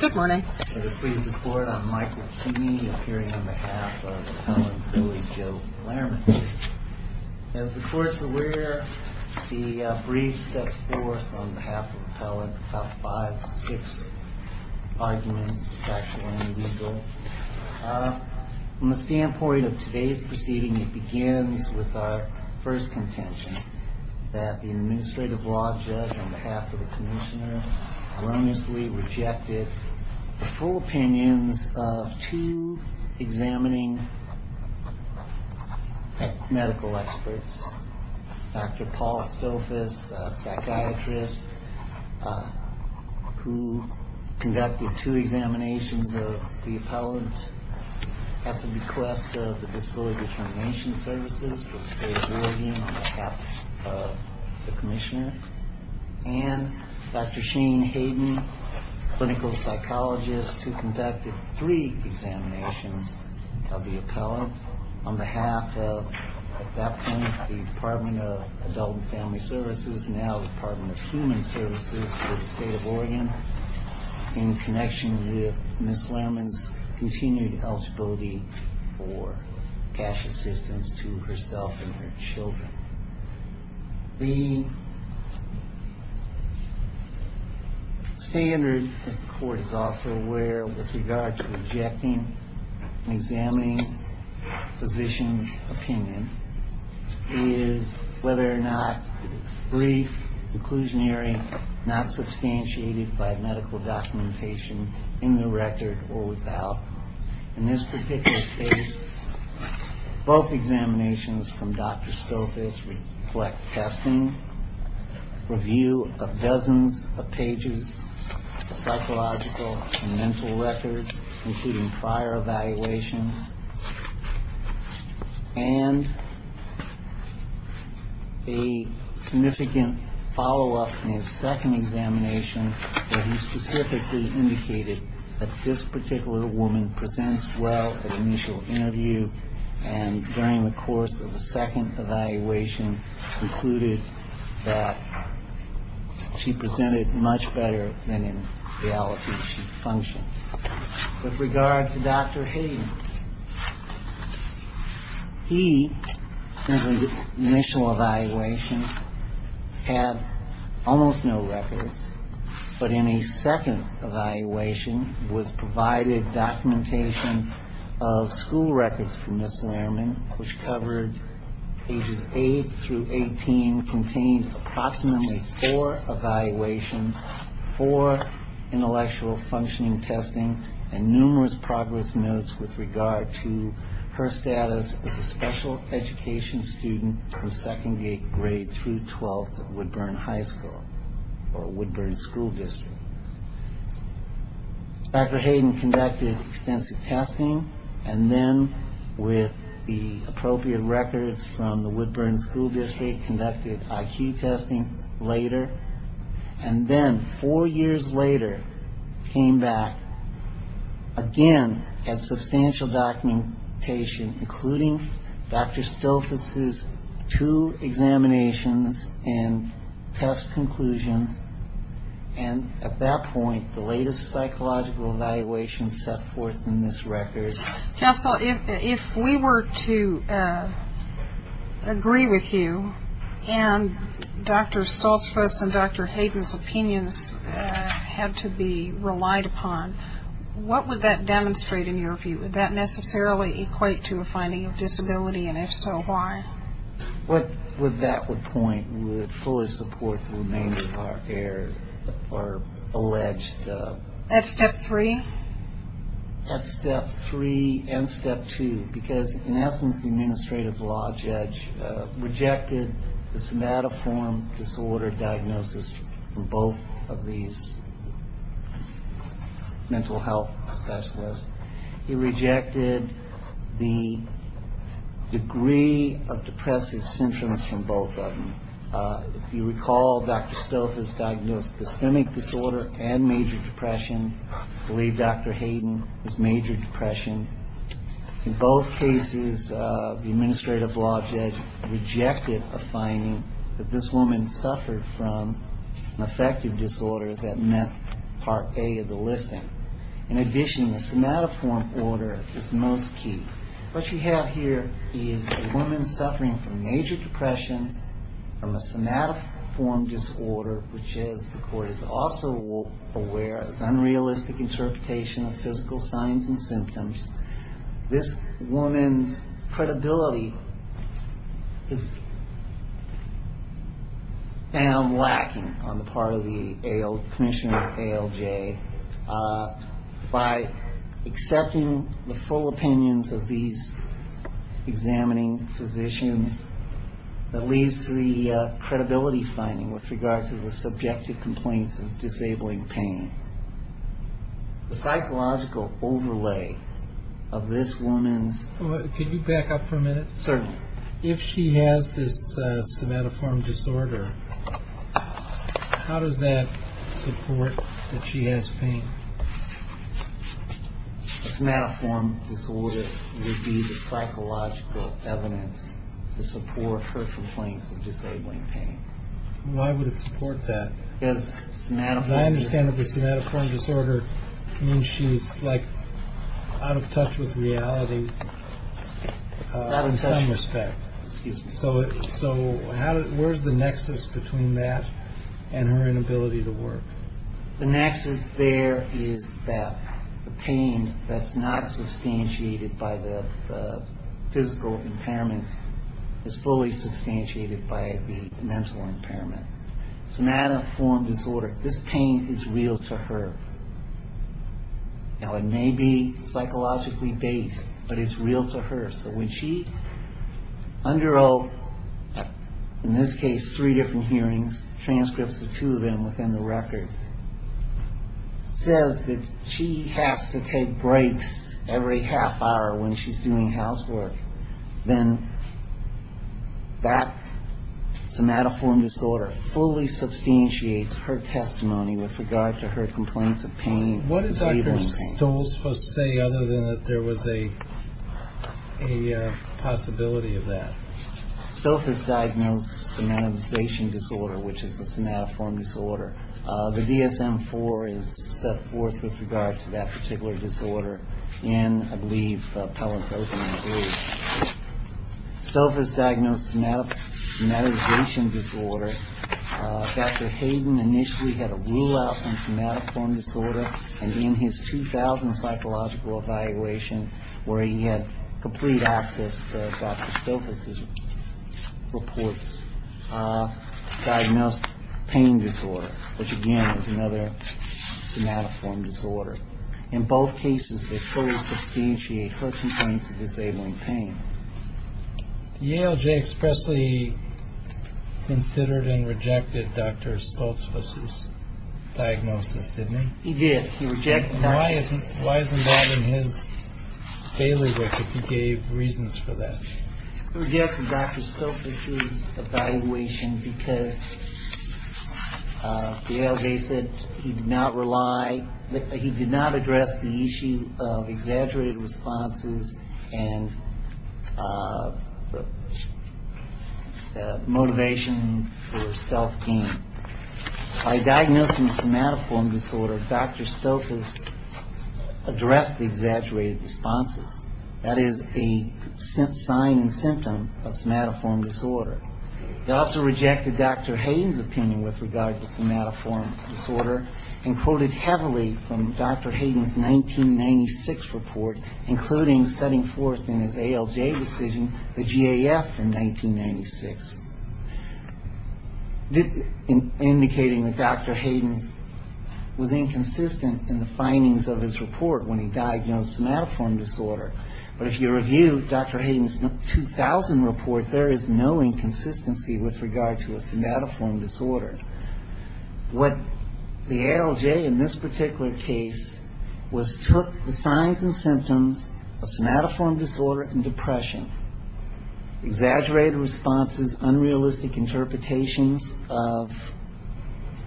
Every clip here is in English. Good morning. I just pleased the court. I'm Michael Keeney, appearing on behalf of Appellant Willie Joe Barnhart. As the court's aware, the brief sets forth on behalf of the appellant about five to six arguments, factual and legal. From the standpoint of today's proceeding, it begins with our first contention that the administrative law judge, on behalf of the commissioner, erroneously rejected the full opinions of two examining medical experts. Dr. Paul Stofas, a psychiatrist, who conducted two examinations of the appellant at the request of the Disability Determination Services, for the state of Oregon, on behalf of the commissioner. And Dr. Shane Hayden, a clinical psychologist, who conducted three examinations of the appellant, on behalf of, at that point, the Department of Adult and Family Services, now the Department of Human Services for the state of Oregon, in connection with Ms. Lehrman's continued eligibility for cash assistance to herself and her children. The standard, as the court is also aware, with regard to rejecting and examining physicians' opinion, is whether or not brief, inclusionary, not substantiated by medical documentation in the record or without. In this particular case, both examinations from Dr. Stofas reflect testing, review of dozens of pages of psychological and mental records, including prior evaluations, and a significant follow-up in his second examination, where he specifically indicated that this particular woman presents well at initial interview, and during the course of the second evaluation, concluded that she presented much better than in reality she functioned. With regard to Dr. Hayden, he, in the initial evaluation, had almost no records, but in a second evaluation, was provided documentation of school records from Ms. Lehrman, which covered pages 8 through 18, contained approximately four evaluations, four intellectual functioning testing, and numerous progress notes with regard to her status as a special education student from second grade through 12th at Woodburn High School, or Woodburn School District. Dr. Hayden conducted extensive testing, and then, with the appropriate records from the Woodburn School District, conducted IQ testing later, and then, four years later, came back, again, and substantial documentation, including Dr. Stofas' two examinations and test conclusions, and at that point, the latest psychological evaluation set forth in this record. Counsel, if we were to agree with you, and Dr. Stofas' and Dr. Hayden's opinions had to be relied upon, what would that demonstrate, in your view? Would that necessarily equate to a finding of disability, and if so, why? What would that point? Would it fully support the remains of our heir, or alleged? That's step three. That's step three and step two, because, in essence, the administrative law judge rejected the somatoform disorder diagnosis from both of these mental health specialists. He rejected the degree of depressive symptoms from both of them. If you recall, Dr. Stofas diagnosed systemic disorder and major depression. I believe Dr. Hayden was major depression. In both cases, the administrative law judge rejected a finding that this woman suffered from an affective disorder that meant part A of the listing. In addition, the somatoform order is most key. What you have here is a woman suffering from major depression from a somatoform disorder, which, as the court is also aware, is unrealistic interpretation of physical signs and symptoms. This woman's credibility is found lacking on the part of the commissioner of ALJ. By accepting the full opinions of these examining physicians, that leads to the credibility finding with regard to the subjective complaints of disabling pain. The psychological overlay of this woman's... Can you back up for a minute? Certainly. If she has this somatoform disorder, how does that support that she has pain? A somatoform disorder would be the psychological evidence to support her complaints of disabling pain. Why would it support that? Because somatoform disorder... So where's the nexus between that and her inability to work? The nexus there is that the pain that's not substantiated by the physical impairments is fully substantiated by the mental impairment. Somatoform disorder, this pain is real to her. Now, it may be psychologically based, but it's real to her. So when she, under, in this case, three different hearings, transcripts of two of them within the record, says that she has to take breaks every half hour when she's doing housework, then that somatoform disorder fully substantiates her testimony with regard to her complaints of pain and disabling pain. Is there anything else I'm supposed to say other than that there was a possibility of that? Stolfa's diagnosed somatization disorder, which is a somatoform disorder. The DSM-IV is set forth with regard to that particular disorder in, I believe, Pellissippi, I believe. Stolfa's diagnosed somatization disorder. Dr. Hayden initially had a rule-out on somatoform disorder, and in his 2000 psychological evaluation, where he had complete access to Dr. Stolfa's reports, diagnosed pain disorder, which, again, is another somatoform disorder. In both cases, they fully substantiate her complaints of disabling pain. The ALJ expressly considered and rejected Dr. Stolfa's diagnosis, didn't he? He did. He rejected that. Why is involving his bailiwick if he gave reasons for that? He rejected Dr. Stolfa's evaluation because the ALJ said he did not rely, he did not address the issue of exaggerated responses and motivation for self-gain. By diagnosing somatoform disorder, Dr. Stolfa's addressed the exaggerated responses. That is a sign and symptom of somatoform disorder. He also rejected Dr. Hayden's opinion with regard to somatoform disorder and quoted heavily from Dr. Hayden's 1996 report, including setting forth in his ALJ decision the GAF in 1996, indicating that Dr. Hayden was inconsistent in the findings of his report when he diagnosed somatoform disorder. But if you review Dr. Hayden's 2000 report, there is no inconsistency with regard to a somatoform disorder. What the ALJ in this particular case was took the signs and symptoms of somatoform disorder and depression, exaggerated responses, unrealistic interpretations of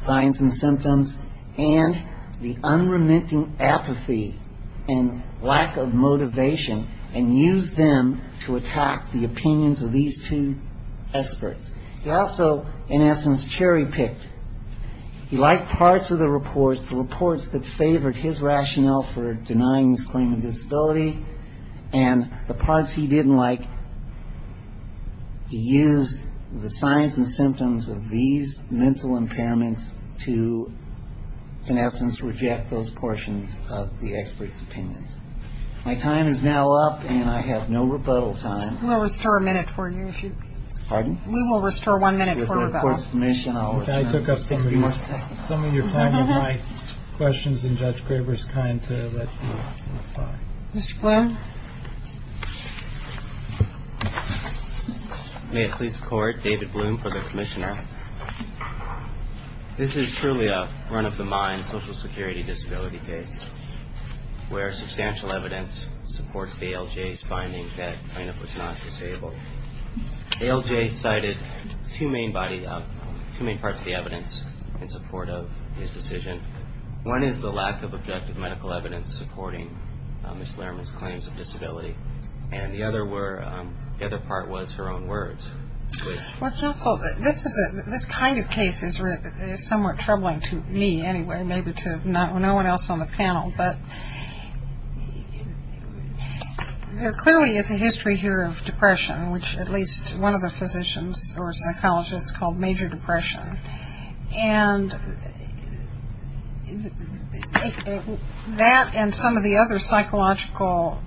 signs and symptoms, and the unremitting apathy and lack of motivation and used them to attack the opinions of these two experts. He also, in essence, cherry-picked. He liked parts of the reports, the reports that favored his rationale for denying his claim of disability, and the parts he didn't like, and he used the signs and symptoms of these mental impairments to, in essence, reject those portions of the experts' opinions. My time is now up, and I have no rebuttal time. MS. GOTTLIEB We'll restore a minute for you if you'd like. MR. BLUM Pardon? MS. GOTTLIEB We will restore one minute for rebuttal. MR. BLUM With the Court's permission, I'll return. MS. GOTTLIEB Just a few more seconds. MR. BLUM Some of your time on my questions and Judge Graber's kind to let you reply. MS. GOTTLIEB Mr. Blum. MR. BLUM May it please the Court, David Blum for the Commissioner. This is truly a run-of-the-mind Social Security disability case where substantial evidence supports the ALJ's findings that Reynolds was not disabled. The ALJ cited two main parts of the evidence in support of his decision. One is the lack of objective medical evidence supporting Ms. Lehrman's claims of disability, and the other part was her own words. MS. GOTTLIEB Well, counsel, this kind of case is somewhat troubling to me anyway, maybe to no one else on the panel, but there clearly is a history here of depression, which at least one of the physicians or psychologists called major depression. And that and some of the other psychological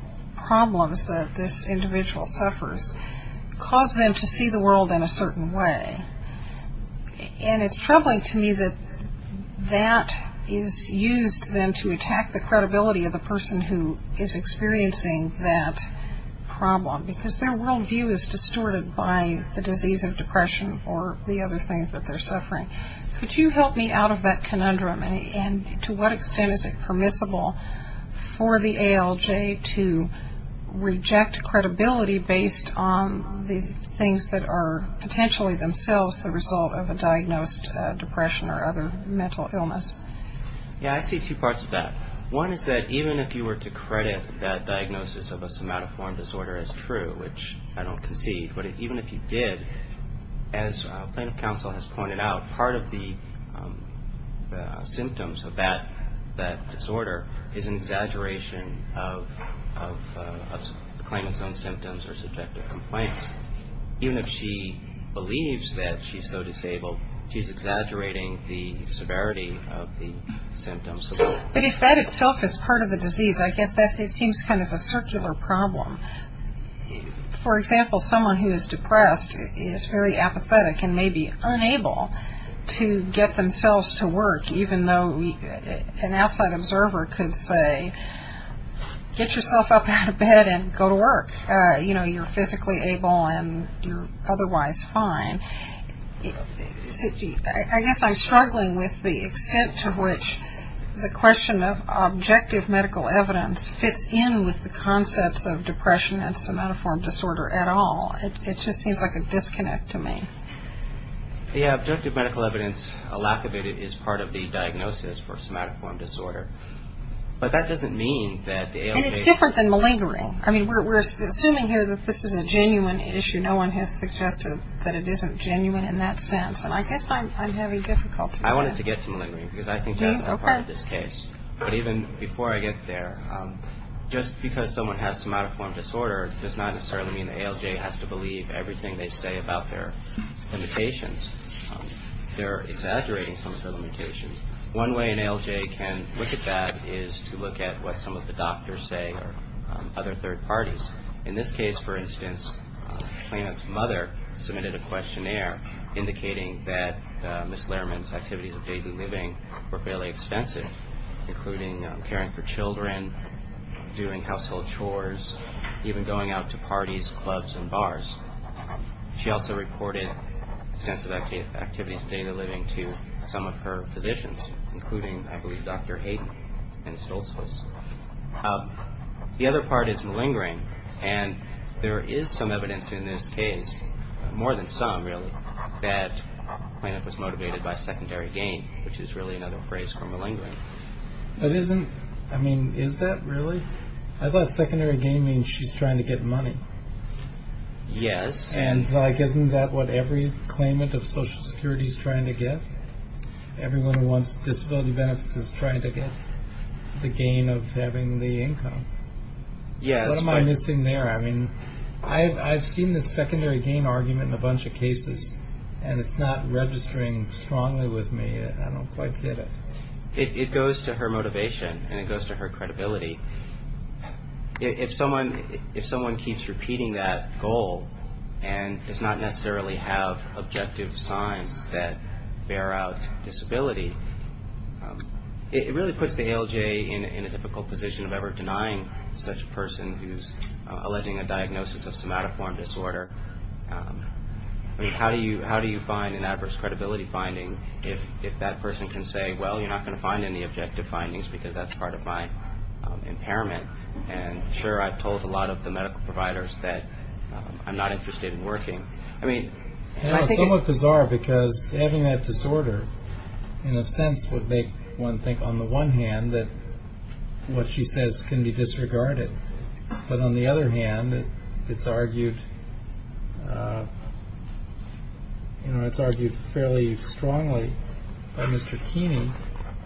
problems that this individual suffers cause them to see the world in a certain way. And it's troubling to me that that is used then to attack the credibility of the person who is experiencing that problem, because their worldview is distorted by the disease of depression or the other things that they're suffering. Could you help me out of that conundrum? And to what extent is it permissible for the ALJ to reject credibility based on the things that are potentially themselves the result of a diagnosed depression or other mental illness? MR. BARTLETT Yeah, I see two parts of that. One is that even if you were to credit that diagnosis of a somatoform disorder as true, which I don't concede, but even if you did, as plaintiff counsel has pointed out, part of the symptoms of that disorder is an exaggeration of claimant's own symptoms or subjective complaints. Even if she believes that she's so disabled, she's exaggerating the severity of the symptoms. But if that itself is part of the disease, I guess that seems kind of a circular problem. For example, someone who is depressed is very apathetic and may be unable to get themselves to work, even though an outside observer could say, get yourself up out of bed and go to work. You know, you're physically able and you're otherwise fine. I guess I'm struggling with the extent to which the question of objective medical evidence fits in with the concepts of depression and somatoform disorder at all. It just seems like a disconnect to me. MR. BARTLETT Yeah, objective medical evidence, a lack of it, is part of the diagnosis for somatoform disorder. But that doesn't mean that the ALD... MRS. BARTLETT And it's different than malingering. I mean, we're assuming here that this is a genuine issue. No one has suggested that it isn't genuine in that sense. And I guess I'm having difficulty with that. MR. BARTLETT I wanted to get to malingering because I think that's a part of this case. But even before I get there, just because someone has somatoform disorder does not necessarily mean the ALJ has to believe everything they say about their limitations. They're exaggerating some of their limitations. One way an ALJ can look at that is to look at what some of the doctors say or other third parties. In this case, for instance, Clayman's mother submitted a questionnaire indicating that Ms. Lehrman's activities of daily living were fairly extensive, including caring for children, doing household chores, even going out to parties, clubs, and bars. She also reported extensive activities of daily living to some of her physicians, including, I believe, Dr. Hayden and Stoltzfus. The other part is malingering. And there is some evidence in this case, more than some, really, that Clayman was motivated by secondary gain, which is really another phrase for malingering. MR. BARTLETT But isn't, I mean, is that really? I thought secondary gain means she's trying to get money. MR. BARTLETT Yes. MR. BARTLETT And, like, isn't that what every claimant of Social Security is trying to get? Everyone who wants disability benefits is trying to get the gain of having the income. MR. BARTLETT MR. BARTLETT What am I missing there? I mean, I've seen this secondary gain argument in a bunch of cases, and it's not registering strongly with me. I don't quite get it. MR. BARTLETT It goes to her motivation, and it goes to her credibility. If someone keeps repeating that goal and does not necessarily have objective signs that bear out disability, it really puts the ALJ in a difficult position of ever denying such a person who's alleging a diagnosis of somatoform disorder. I mean, how do you find an adverse credibility finding if that person can say, well, you're not going to find any objective findings because that's part of my impairment? And, sure, I've told a lot of the medical providers that I'm not interested in working. I mean, I think it's... MR. BARTLETT It's somewhat bizarre because having that disorder, in a sense, would make one think, on the one hand, that what she says can be disregarded. But on the other hand, it's argued fairly strongly by Mr. Keeney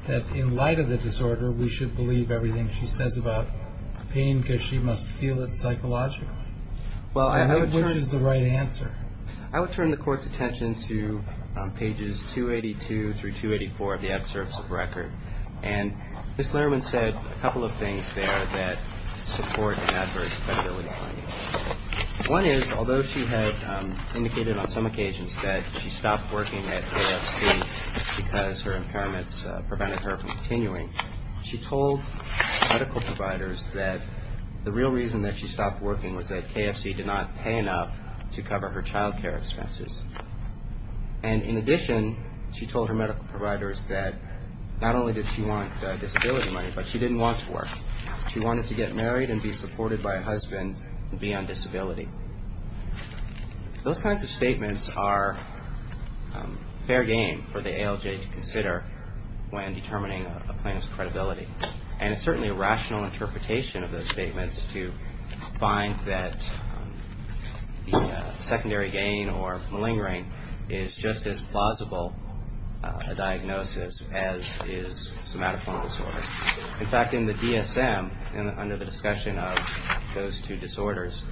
that in light of the disorder, we should believe everything she says about pain because she must feel it psychologically. Which is the right answer? MR. KEENEY I would turn the Court's attention to pages 282 through 284 of the absurds of record. And Ms. Lehrman said a couple of things there that support an adverse credibility finding. One is, although she had indicated on some occasions that she stopped working at AFC because her impairments prevented her from continuing, she told medical providers that the real reason that she stopped working was that KFC did not pay enough to cover her child care expenses. And, in addition, she told her medical providers that not only did she want disability money, but she didn't want to work. She wanted to get married and be supported by a husband and be on disability. Those kinds of statements are fair game for the ALJ to consider when determining a plaintiff's credibility. And it's certainly a rational interpretation of those statements to find that the secondary gain or malingering is just as plausible a diagnosis as is somatophone disorder. In fact, in the DSM, under the discussion of those two disorders,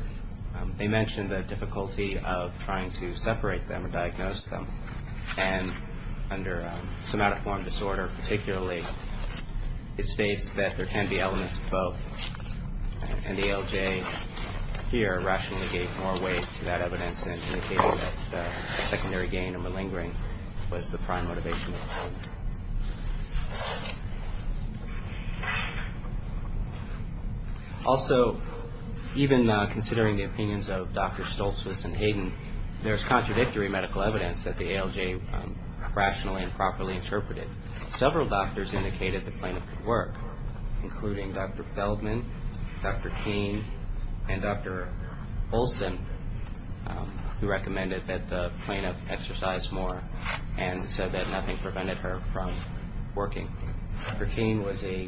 they mention the difficulty of trying to separate them or diagnose them. And under somatophone disorder, particularly, it states that there can be elements of both. And the ALJ here rationally gave more weight to that evidence and indicated that secondary gain or malingering was the prime motivation. Also, even considering the opinions of Drs. Stoltzfus and Hayden, there's contradictory medical evidence that the ALJ rationally and properly interpreted. Several doctors indicated the plaintiff could work, including Dr. Feldman, Dr. Keene, and Dr. Olson, who recommended that the plaintiff exercise more and said that nothing prevented her from working. Dr. Keene was a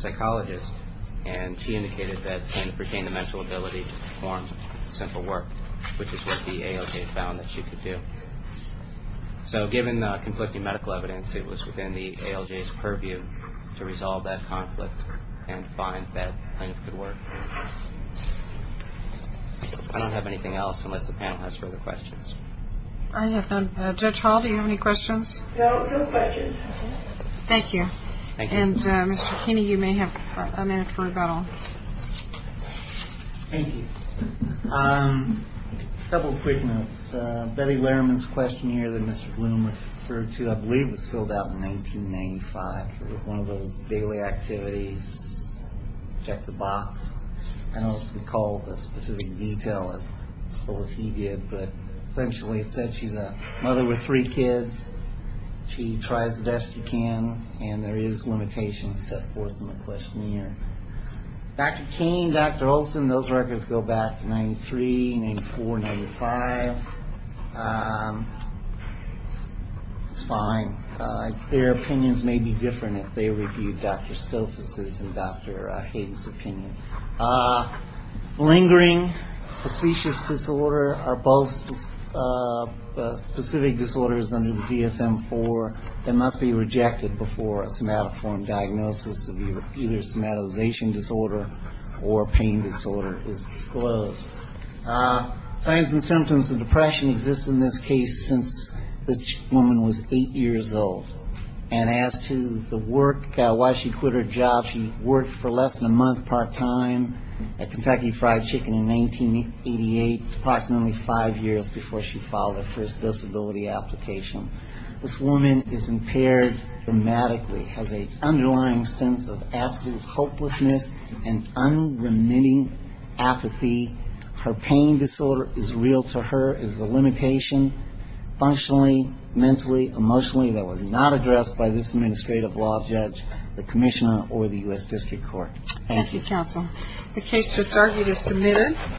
psychologist, and she indicated that the plaintiff retained the mental ability to perform simple work, which is what the ALJ found that she could do. So given the conflicting medical evidence, it was within the ALJ's purview to resolve that conflict and find that the plaintiff could work. I don't have anything else unless the panel has further questions. I have none. Judge Hall, do you have any questions? No, no questions. Thank you. Thank you. And, Mr. Keene, you may have a minute for rebuttal. Thank you. A couple of quick notes. Betty Lehrman's questionnaire that Mr. Bloom referred to I believe was filled out in 1995. It was one of those daily activities, check the box. I don't recall the specific detail as full as he did, but essentially it said she's a mother with three kids. She tries the best she can, and there is limitations set forth in the questionnaire. Dr. Keene, Dr. Olson, those records go back to 93, 94, 95. It's fine. Their opinions may be different if they review Dr. Stofas' and Dr. Hayden's opinion. Lingering, facetious disorder are both specific disorders under the DSM-IV that must be rejected before a somatoform diagnosis of either somatization disorder or pain disorder is disclosed. Signs and symptoms of depression exist in this case since this woman was eight years old. And as to the work, why she quit her job, she worked for less than a month part-time at Kentucky Fried Chicken in 1988, approximately five years before she filed her first disability application. This woman is impaired dramatically, has an underlying sense of absolute hopelessness and unremitting apathy. Her pain disorder is real to her, is a limitation, functionally, mentally, emotionally, that was not addressed by this administrative law judge, the commissioner, or the U.S. District Court. Thank you. Thank you, counsel. The case just argued is submitted.